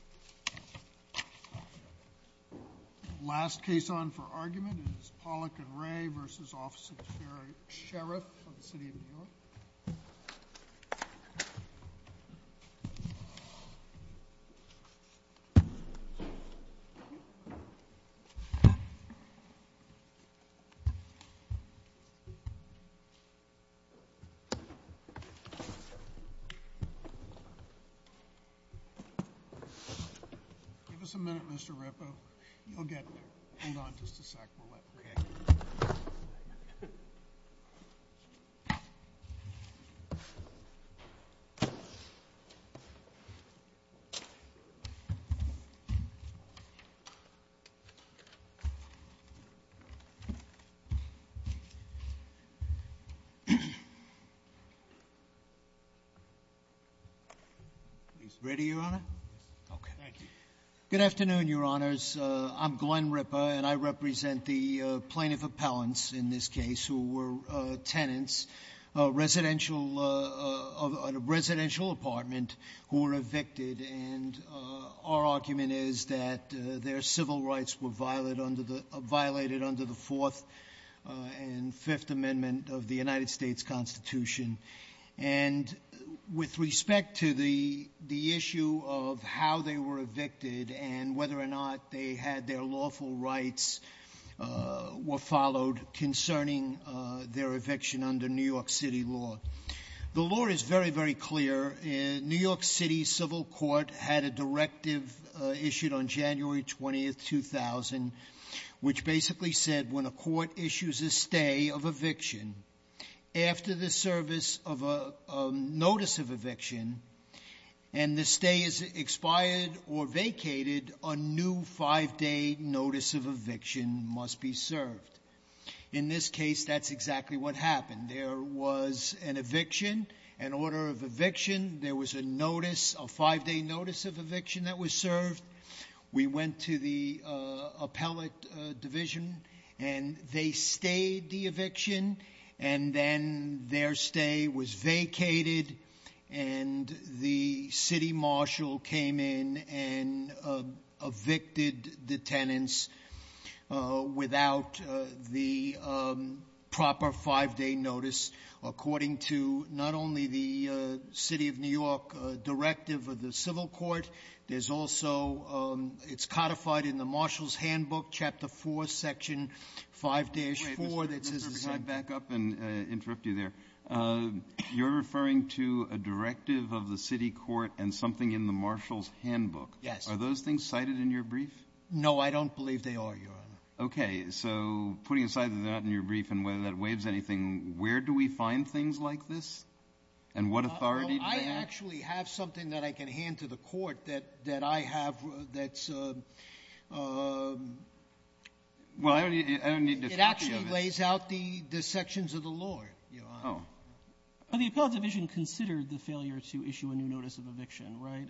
Sheriff of the City of New York. Last case on for argument is Pollack v. Ray v. Office of the Sheriff of the City of New Give us a minute Mr. Ripa, you'll get there, hold on just a sec, we'll let Ray get there. Ready your honor? Okay. Thank you. Good afternoon your honors, I'm Glenn Ripa and I represent the plaintiff appellants in this case who were tenants of a residential apartment who were evicted and our argument is that their civil rights were violated under the fourth and fifth amendment of the United of how they were evicted and whether or not they had their lawful rights were followed concerning their eviction under New York City law. The law is very, very clear. New York City civil court had a directive issued on January 20, 2000 which basically said when a court issues a stay of eviction after the service of a notice of eviction and the stay is expired or vacated, a new five day notice of eviction must be served. In this case that's exactly what happened. There was an eviction, an order of eviction, there was a notice, a five day notice of eviction that was served. We went to the appellate division and they stayed the eviction and then their stay was and the city marshal came in and evicted the tenants without the proper five day notice according to not only the city of New York directive of the civil court, there's also it's codified in the marshal's handbook, chapter four, section five dash four. Back up and interrupt you there. You're referring to a directive of the city court and something in the marshal's handbook. Yes. Are those things cited in your brief? No, I don't believe they are, Your Honor. Okay. So putting aside that they're not in your brief and whether that waives anything, where do we find things like this and what authority do they have? I actually have something that I can hand to the court that I have that's... Well, I don't need to... It actually lays out the sections of the law, Your Honor. Oh. The appellate division considered the failure to issue a new notice of eviction, right?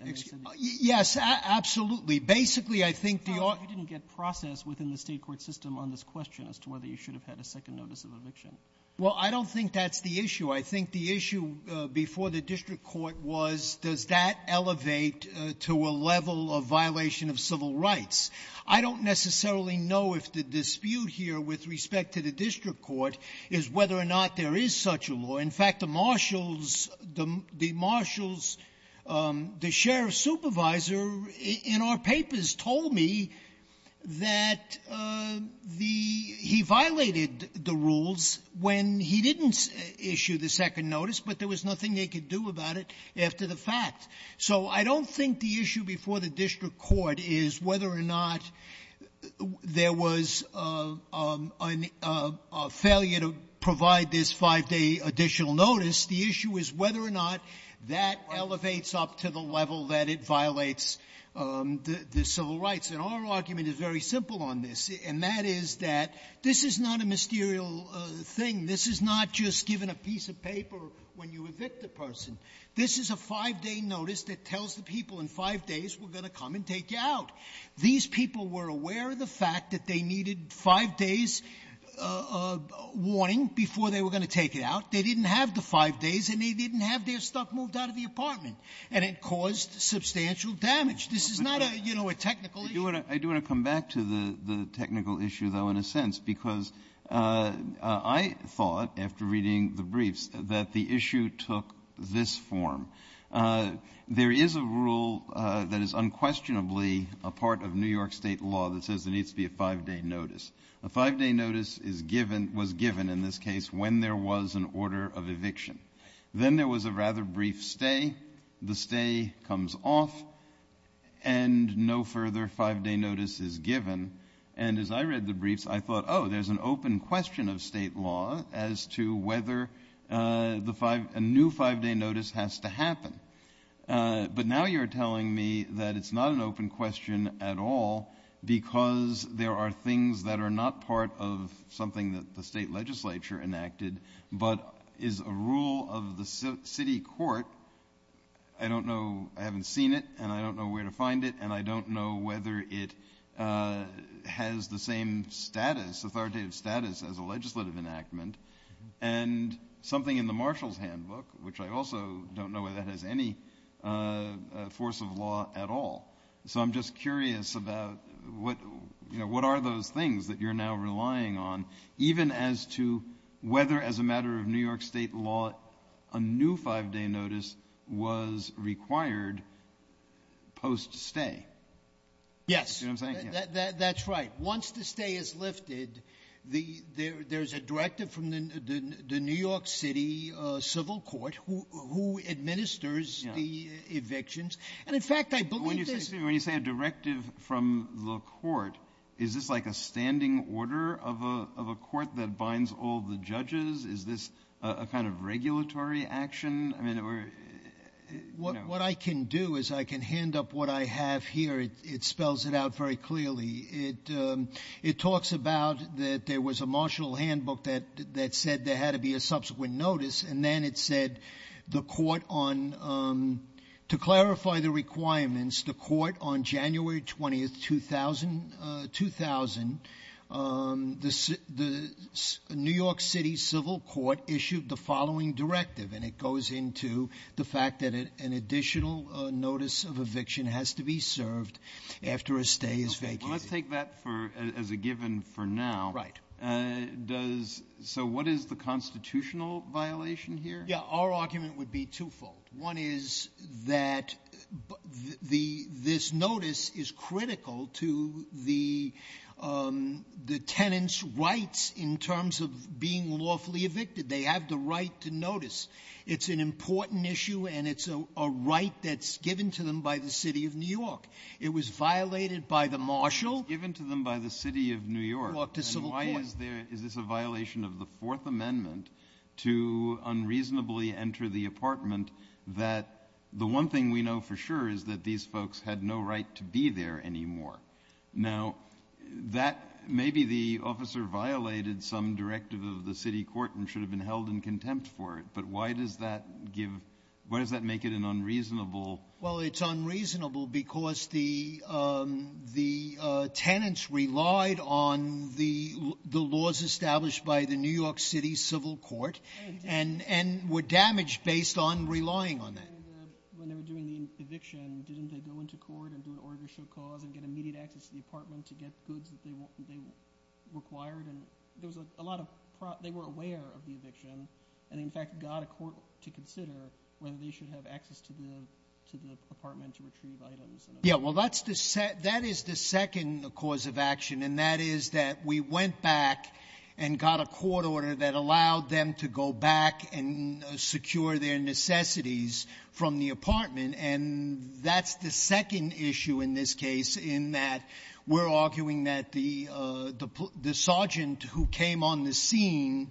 Yes, absolutely. Basically, I think... You didn't get process within the state court system on this question as to whether you should have had a second notice of eviction. Well, I don't think that's the issue. I think the issue before the district court was does that elevate to a level of violation of civil rights? I don't necessarily know if the dispute here with respect to the district court is whether or not there is such a law. In fact, the marshals, the marshals, the sheriff's supervisor in our papers told me that the — he violated the rules when he didn't issue the second notice, but there was nothing they could do about it after the fact. So I don't think the issue before the district court is whether or not there was a failure to provide this five-day additional notice. The issue is whether or not that elevates up to the level that it violates the civil rights. And our argument is very simple on this, and that is that this is not a mysterious thing. This is not just given a piece of paper when you evict a person. This is a five-day notice that tells the people in five days we're going to come and take you out. These people were aware of the fact that they needed five days' warning before they were going to take you out. They didn't have the five days, and they didn't have their stuff moved out of the apartment, and it caused substantial damage. This is not a, you know, a technical issue. Kennedy. I do want to come back to the technical issue, though, in a sense, because I thought, after reading the briefs, that the issue took this form. There is a rule that is unquestionably a part of New York State law that says there needs to be a five-day notice. A five-day notice is given, was given, in this case, when there was an order of eviction. Then there was a rather brief stay. The stay comes off, and no further five-day notice is given. And as I read the briefs, I thought, oh, there's an open question of state law as to whether a new five-day notice has to happen. But now you're telling me that it's not an open question at all because there are things that are not part of something that the state legislature enacted, but is a rule of the city court. I don't know, I haven't seen it, and I don't know where to find it, and I don't know whether it has the same status, authoritative status, as a legislative enactment. And something in the Marshall's Handbook, which I also don't know whether that has any force of law at all. So I'm just curious about what are those things that you're now relying on, even as to whether, as a matter of New York State law, a new five-day notice was required post-stay? Yes, that's right. Once the stay is lifted, there's a directive from the New York City Civil Court, who administers the evictions. And in fact, I believe there's- When you say a directive from the court, is this like a standing order of a court that binds all the judges? Is this a kind of regulatory action? I mean, we're- What I can do is I can hand up what I have here. It spells it out very clearly. It talks about that there was a Marshall's Handbook that said there had to be a subsequent notice, and then it said the court on- to clarify the requirements, the court on January 20th, 2000, the New York City Civil Court issued the following directive, and it goes into the fact that an additional notice of eviction has to be served after a stay is vacated. Okay. Well, let's take that as a given for now. Right. Does- So what is the constitutional violation here? Yeah, our argument would be twofold. One is that this notice is critical to the tenant's rights in terms of being lawfully evicted. They have the right to notice. It's an important issue, and it's a right that's given to them by the City of New York. It was violated by the Marshall- It was given to them by the City of New York. ...court, the Civil Court. And why is there- Is this a violation of the Fourth Amendment to unreasonably enter the apartment that the one thing we know for sure is that these folks had no right to be there anymore? Now, that- Maybe the officer violated some directive of the city court and should have been held in contempt for it, but why does that give- Why does that make it an unreasonable- Well, it's unreasonable because the tenants relied on the laws established by the New York City Civil Court and were damaged based on relying on that. And when they were doing the eviction, didn't they go into court and do an order show cause and get immediate access to the apartment to get goods that they required? And there was a lot of- They were aware of the eviction and, in fact, got a court to consider whether they should have access to the apartment to retrieve items. Yeah. Well, that's the- That is the second cause of action, and that is that we went back and got a court order that allowed them to go back and secure their necessities from the apartment. And that's the second issue in this case in that we're arguing that the sergeant who came on the scene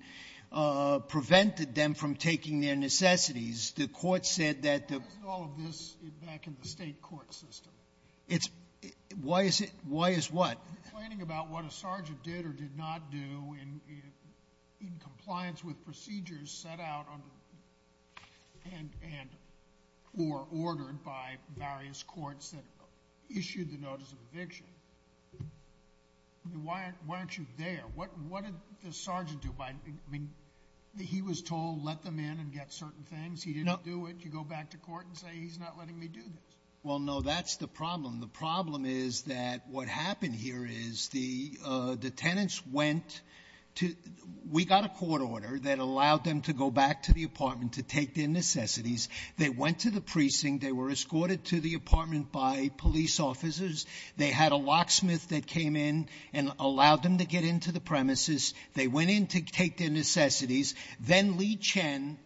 prevented them from taking their necessities. The court said that the- Why is all of this back in the state court system? Why is what? Well, complaining about what a sergeant did or did not do in compliance with procedures set out and- or ordered by various courts that issued the notice of eviction, why aren't you there? What did the sergeant do by- I mean, he was told, let them in and get certain things. He didn't do it. You go back to court and say, he's not letting me do this. Well, no. That's the problem. The problem is that what happened here is the- the tenants went to- We got a court order that allowed them to go back to the apartment to take their necessities. They went to the precinct. They were escorted to the apartment by police officers. They had a locksmith that came in and allowed them to get into the premises. They went in to take their necessities. Then Lee Chen,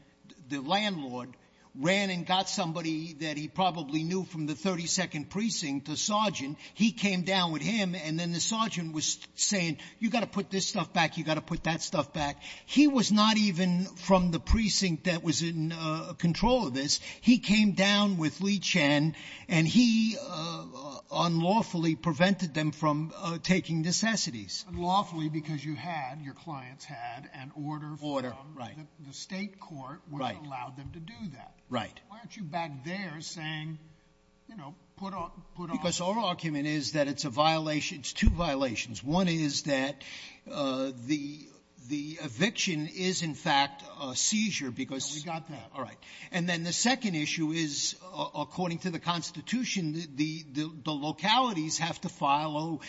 the landlord, ran and got somebody that he probably knew from the 32nd precinct a sergeant. He came down with him, and then the sergeant was saying, you got to put this stuff back. You got to put that stuff back. He was not even from the precinct that was in control of this. He came down with Lee Chen, and he unlawfully prevented them from taking necessities. Unlawfully, because you had- your clients had an order from the state court which allowed them to do that. Right. Why aren't you back there saying, you know, put on- Because our argument is that it's a violation- it's two violations. One is that the- the eviction is, in fact, a seizure because- Yeah, we got that. All right. And then the second issue is, according to the Constitution, the- the localities have to follow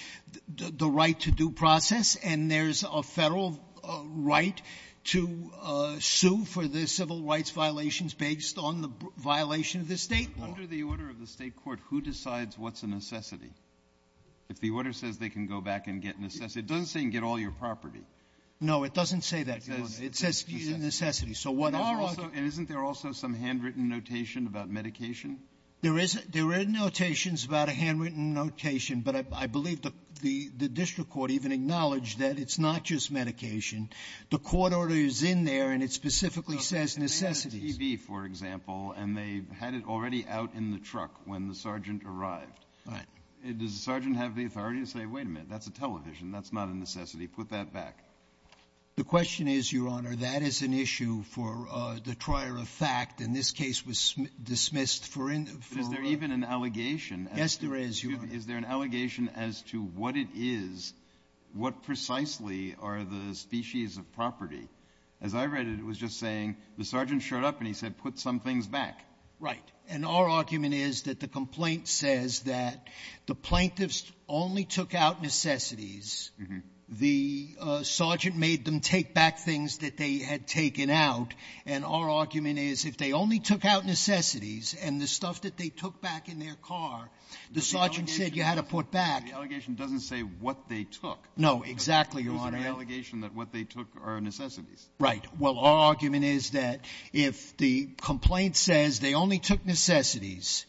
the right to due process, and there's a federal right to sue for the civil rights violations based on the violation of the state law. Under the order of the state court, who decides what's a necessity? If the order says they can go back and get necessity, it doesn't say you can get all your property. No, it doesn't say that. It says it's a necessity. So what- And also- and isn't there also some handwritten notation about medication? There is- there are notations about a handwritten notation, but I believe the- the district court even acknowledged that it's not just medication. The court order is in there, and it specifically says necessity. It says TB, for example, and they had it already out in the truck when the sergeant arrived. Right. Does the sergeant have the authority to say, wait a minute, that's a television. That's not a necessity. Put that back. The question is, Your Honor, that is an issue for the trier of fact. And this case was dismissed for- But is there even an allegation- Yes, there is, Your Honor. Is there an allegation as to what it is, what precisely are the species of property? As I read it, it was just saying the sergeant showed up and he said, put some things back. Right. And our argument is that the complaint says that the plaintiffs only took out necessities. The sergeant made them take back things that they had taken out. And our argument is, if they only took out necessities and the stuff that they took back in their car, the sergeant said you had to put back- No, exactly, Your Honor. It was an allegation that what they took are necessities. Right. Well, our argument is that if the complaint says they only took necessities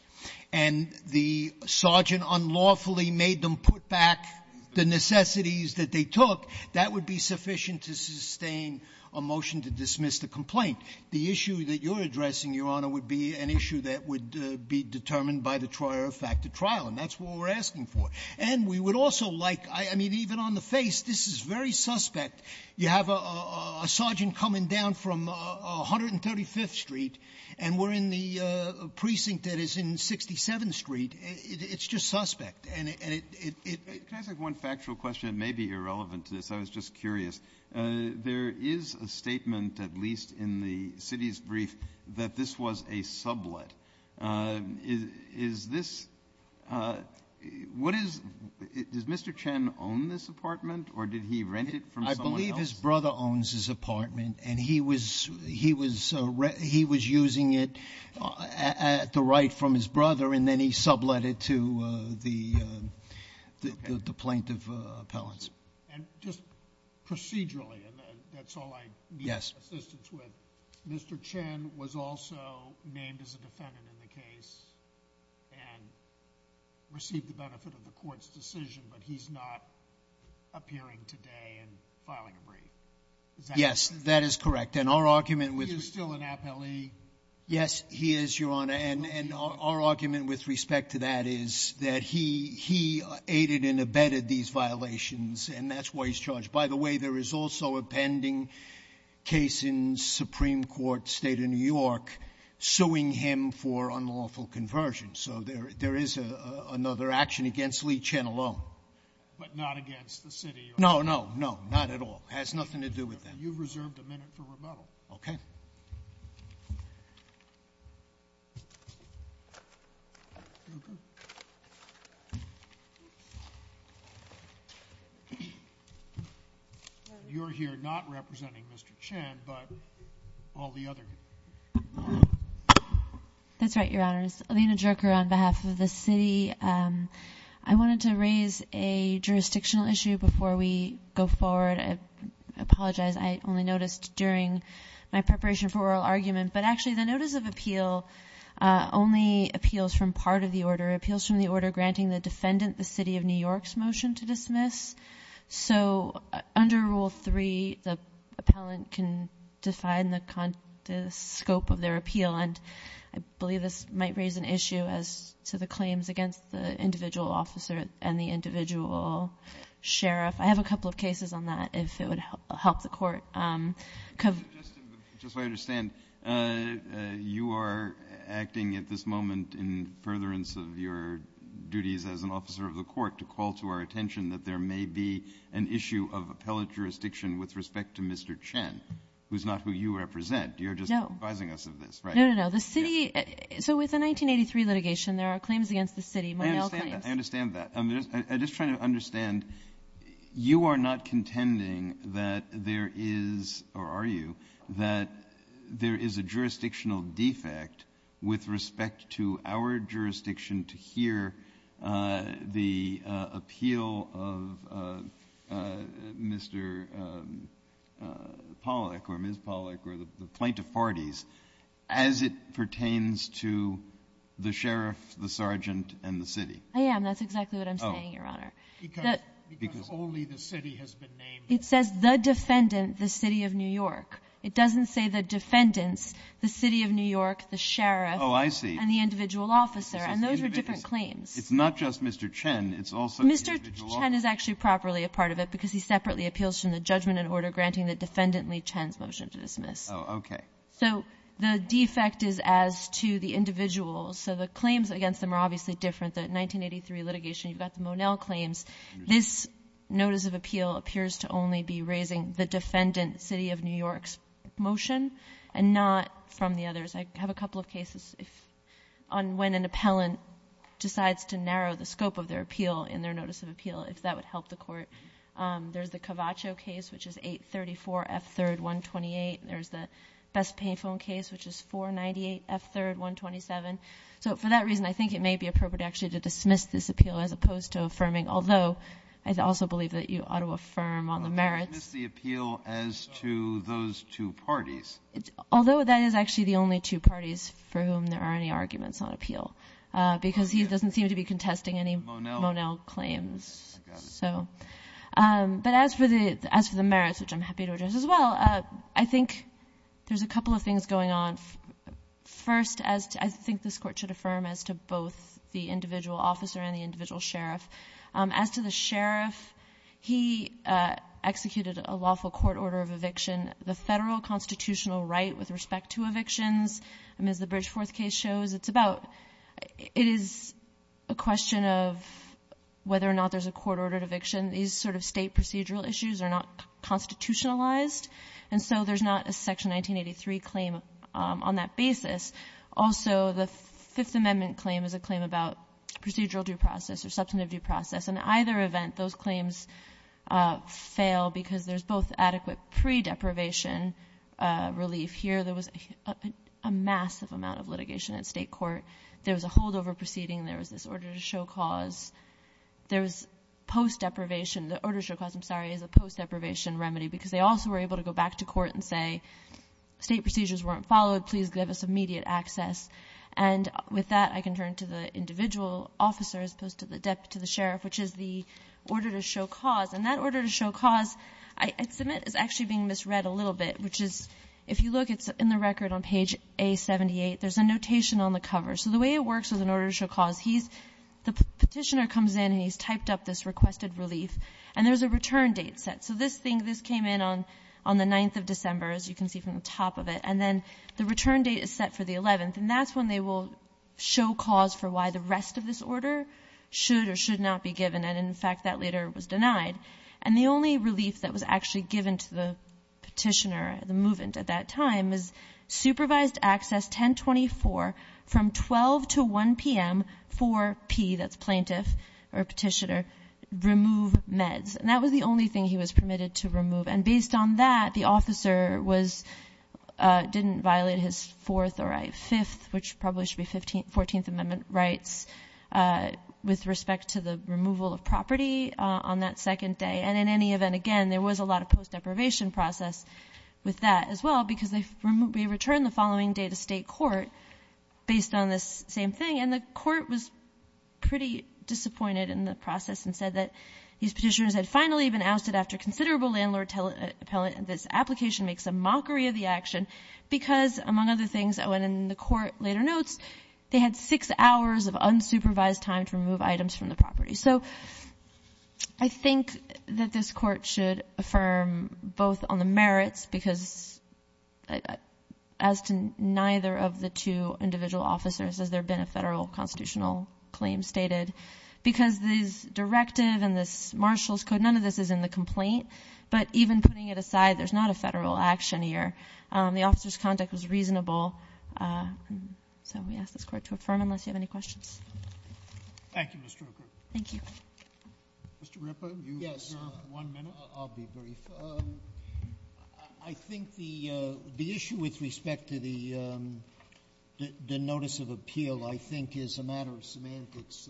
and the sergeant unlawfully made them put back the necessities that they took, that would be sufficient to sustain a motion to dismiss the complaint. The issue that you're addressing, Your Honor, would be an issue that would be determined by the trier of fact at trial. And that's what we're asking for. And we would also like, I mean, even on the face, this is very suspect. You have a sergeant coming down from 135th Street, and we're in the precinct that is in 67th Street. It's just suspect. And it — Can I ask one factual question? It may be irrelevant to this. I was just curious. There is a statement, at least in the city's brief, that this was a sublet. Is this — what is — does Mr. Chen own this apartment, or did he rent it from someone else? I believe his brother owns this apartment, and he was using it at the right from his brother, and then he sublet it to the plaintiff appellants. And just procedurally, and that's all I need assistance with, Mr. Chen was also named as a defendant in the case and received the benefit of the court's decision, but he's not appearing today and filing a brief. Is that correct? Yes, that is correct. And our argument with — He is still an appellee. Yes, he is, Your Honor. And our argument with respect to that is that he aided and abetted these violations, and that's why he's charged. By the way, there is also a pending case in Supreme Court State of New York suing him for unlawful conversion. So there is another action against Lee Chen alone. But not against the city, Your Honor? No, no, no, not at all. Has nothing to do with that. You've reserved a minute for rebuttal. Okay. You're here not representing Mr. Chen, but all the other — That's right, Your Honors. Alina Jerker on behalf of the city. I wanted to raise a jurisdictional issue before we go forward. I apologize. I only noticed during my preparation for oral argument. But actually, the notice of appeal only appeals from part of the order. It appeals from the order granting the defendant the City of New York's motion to dismiss. So under Rule 3, the appellant can define the scope of their appeal. And I believe this might raise an issue as to the claims against the individual officer and the individual sheriff. I have a couple of cases on that, if it would help the Court. Just so I understand, you are acting at this moment in furtherance of your duties as an officer of the Court to call to our attention that there may be an issue of appellate jurisdiction with respect to Mr. Chen, who's not who you represent. You're just advising us of this, right? No, no, no. The city — so with the 1983 litigation, there are claims against the city. I understand that. I understand that. I'm just trying to understand. You are not contending that there is — or are you — that there is a jurisdictional defect with respect to our jurisdiction to hear the appeal of Mr. Pollack or Ms. Pollack or the plaintiff parties as it pertains to the sheriff, the sergeant, and the city? I am. That's exactly what I'm saying, Your Honor. Oh. Because — Because — Because only the city has been named. It says the defendant, the City of New York. It doesn't say the defendants, the City of New York, the sheriff — Oh, I see. — and the individual officer. And those are different claims. Individuals. It's not just Mr. Chen. It's also the individual officer. Mr. Chen is actually properly a part of it because he separately appeals from the judgment and order granting the defendantly Chen's motion to dismiss. Oh, okay. So the defect is as to the individuals. So the claims against them are obviously different. The 1983 litigation, you've got the Monel claims. This notice of appeal appears to only be raising the defendant, City of New York's motion and not from the others. I have a couple of cases on when an appellant decides to narrow the scope of their appeal in their notice of appeal, if that would help the court. There's the Cavaccio case, which is 834 F3rd 128. There's the Best Payphone case, which is 498 F3rd 127. So for that reason, I think it may be appropriate actually to dismiss this appeal as opposed to affirming, although I also believe that you ought to affirm on the merits. But dismiss the appeal as to those two parties. Although that is actually the only two parties for whom there are any arguments on appeal because he doesn't seem to be contesting any Monel claims. I got it. But as for the merits, which I'm happy to address as well, I think there's a couple of things going on. First, I think this Court should affirm as to both the individual officer and the individual sheriff. As to the sheriff, he executed a lawful court order of eviction. The Federal constitutional right with respect to evictions, as the Bridgeforth case shows, it's about — it is a question of whether or not there's a court-ordered eviction. These sort of State procedural issues are not constitutionalized. And so there's not a Section 1983 claim on that basis. Also, the Fifth Amendment claim is a claim about procedural due process or substantive due process. In either event, those claims fail because there's both adequate pre-deprivation relief. Here, there was a massive amount of litigation in State court. There was a holdover proceeding. There was this order to show cause. There was post-deprivation — the order to show cause, I'm sorry, is a post-deprivation remedy because they also were able to go back to court and say, State procedures weren't followed. Please give us immediate access. And with that, I can turn to the individual officer as opposed to the deputy to the sheriff, which is the order to show cause. And that order to show cause, I submit, is actually being misread a little bit, which is, if you look, it's in the record on page A78. There's a notation on the cover. So the way it works with an order to show cause, he's — the petitioner comes in and he's typed up this requested relief. And there's a return date set. So this thing, this came in on the 9th of December, as you can see from the top of it. And then the return date is set for the 11th. And that's when they will show cause for why the rest of this order should or should not be given. And in fact, that later was denied. And the only relief that was actually given to the petitioner, the movement at that time, was supervised access 1024 from 12 to 1 p.m. for P — that's plaintiff or petitioner — remove meds. And that was the only thing he was permitted to remove. And based on that, the officer was — didn't violate his 4th or 5th, which probably should be 14th Amendment rights, with respect to the removal of property on that second day. And in any event, again, there was a lot of post-deprivation process with that as well, because they — we returned the following day to state court based on this same thing. And the court was pretty disappointed in the process and said that these petitioners had finally been ousted after considerable landlord-appellate — this application makes a mockery of the action because, among other things — oh, and in the court later notes, they had six hours of unsupervised time to remove items from the property. So I think that this court should affirm both on the merits, because as to neither of the two individual officers, has there been a federal constitutional claim stated, because this directive and this marshal's code, none of this is in the complaint. But even putting it aside, there's not a federal action here. The officer's conduct was reasonable. So we ask this Court to affirm, unless you have any questions. Thank you, Ms. Stroker. Thank you. Mr. Ripa, you have one minute. Yes. I'll be brief. I think the issue with respect to the notice of appeal, I think, is a matter of semantics.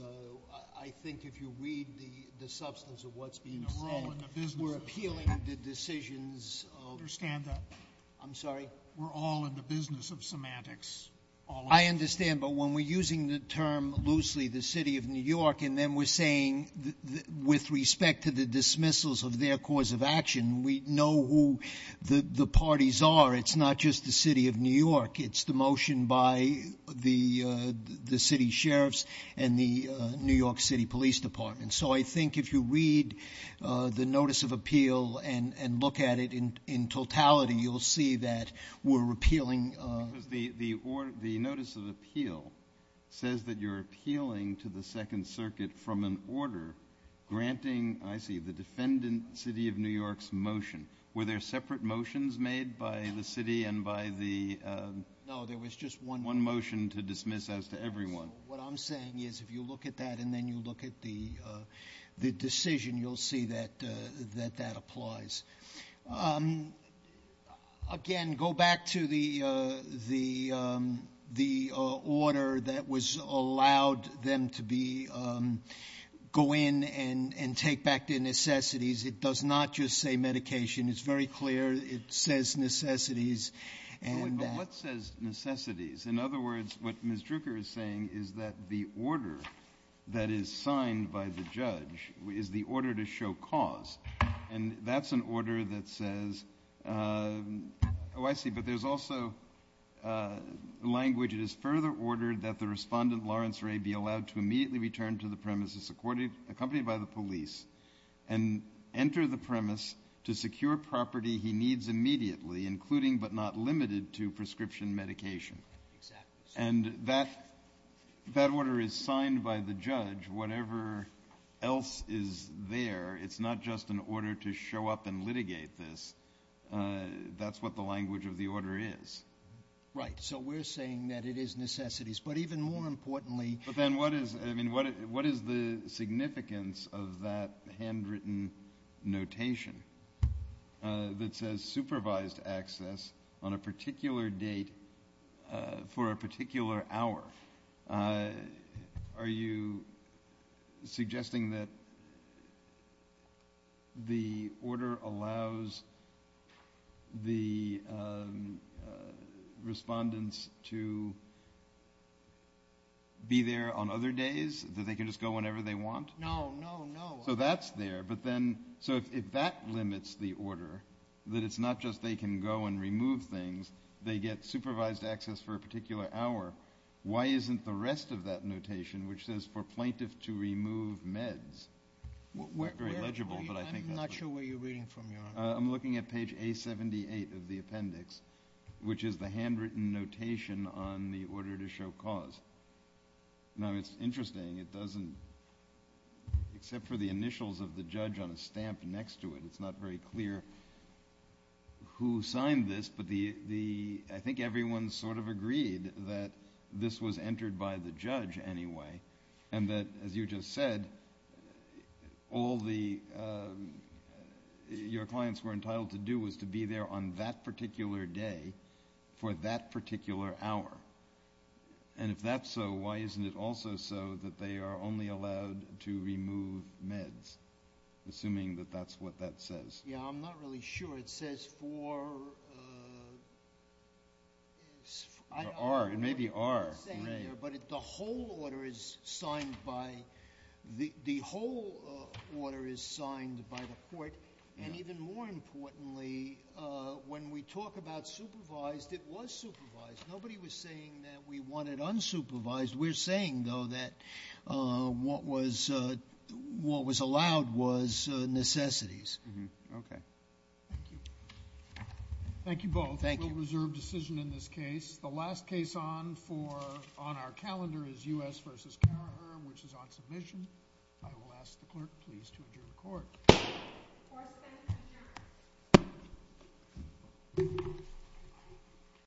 I think if you read the substance of what's being said, we're appealing the decisions of — I understand that. I'm sorry? We're all in the business of semantics. I understand, but when we're using the term loosely, the City of New York, and then we're saying, with respect to the dismissals of their cause of action, we know who the parties are. It's not just the City of New York. It's the motion by the city sheriffs and the New York City Police Department. So I think if you read the notice of appeal and look at it in totality, you'll see that we're appealing — The notice of appeal says that you're appealing to the Second Circuit from an order granting — I see, the defendant, City of New York's motion. Were there separate motions made by the city and by the — No, there was just one motion. One motion to dismiss as to everyone. What I'm saying is, if you look at that and then you look at the decision, you'll see that that applies. Again, go back to the order that was allowed them to be — go in and take back their necessities. It does not just say medication. It's very clear. It says necessities. But what says necessities? In other words, what Ms. Drucker is saying is that the order that is signed by the judge is the order to show cause. And that's an order that says — Oh, I see. But there's also language. It is further ordered that the respondent, Lawrence Ray, be allowed to immediately return to the premises accompanied by the police and enter the premise to secure property he needs immediately, including but not limited to prescription medication. Exactly. And that order is signed by the judge. Whatever else is there, it's not just an order to show up and litigate this. That's what the language of the order is. Right. So we're saying that it is necessities. But even more importantly — But then what is — What is that handwritten notation that says supervised access on a particular date for a particular hour? Are you suggesting that the order allows the respondents to be there on other days, that they can just go whenever they want? No, no, no. So that's there. But then — So if that limits the order, that it's not just they can go and remove things, they get supervised access for a particular hour, why isn't the rest of that notation, which says for plaintiff to remove meds — Not very legible, but I think that's what — I'm not sure where you're reading from, Your Honor. I'm looking at page A78 of the appendix, which is the handwritten notation on the order to show cause. Now, it's interesting. It doesn't — Except for the initials of the judge on a stamp next to it, it's not very clear who signed this. But the — I think everyone sort of agreed that this was entered by the judge anyway, and that, as you just said, all the — your clients were entitled to do was to be there on that particular day for that particular hour. And if that's so, why isn't it also so that they are only allowed to remove meds, assuming that that's what that says? Yeah, I'm not really sure. It says for — For R. It may be R. But the whole order is signed by — the whole order is signed by the court, and even more importantly, when we talk about supervised, it was supervised. Nobody was saying that we wanted unsupervised. We're saying, though, that what was — what was allowed was necessities. Mm-hmm. Okay. Thank you. Thank you both. Thank you. We'll reserve decision in this case. The last case on for — on our calendar is U.S. v. Karraher, which is on submission. I will ask the clerk, please, to adjourn the court. Court is adjourned.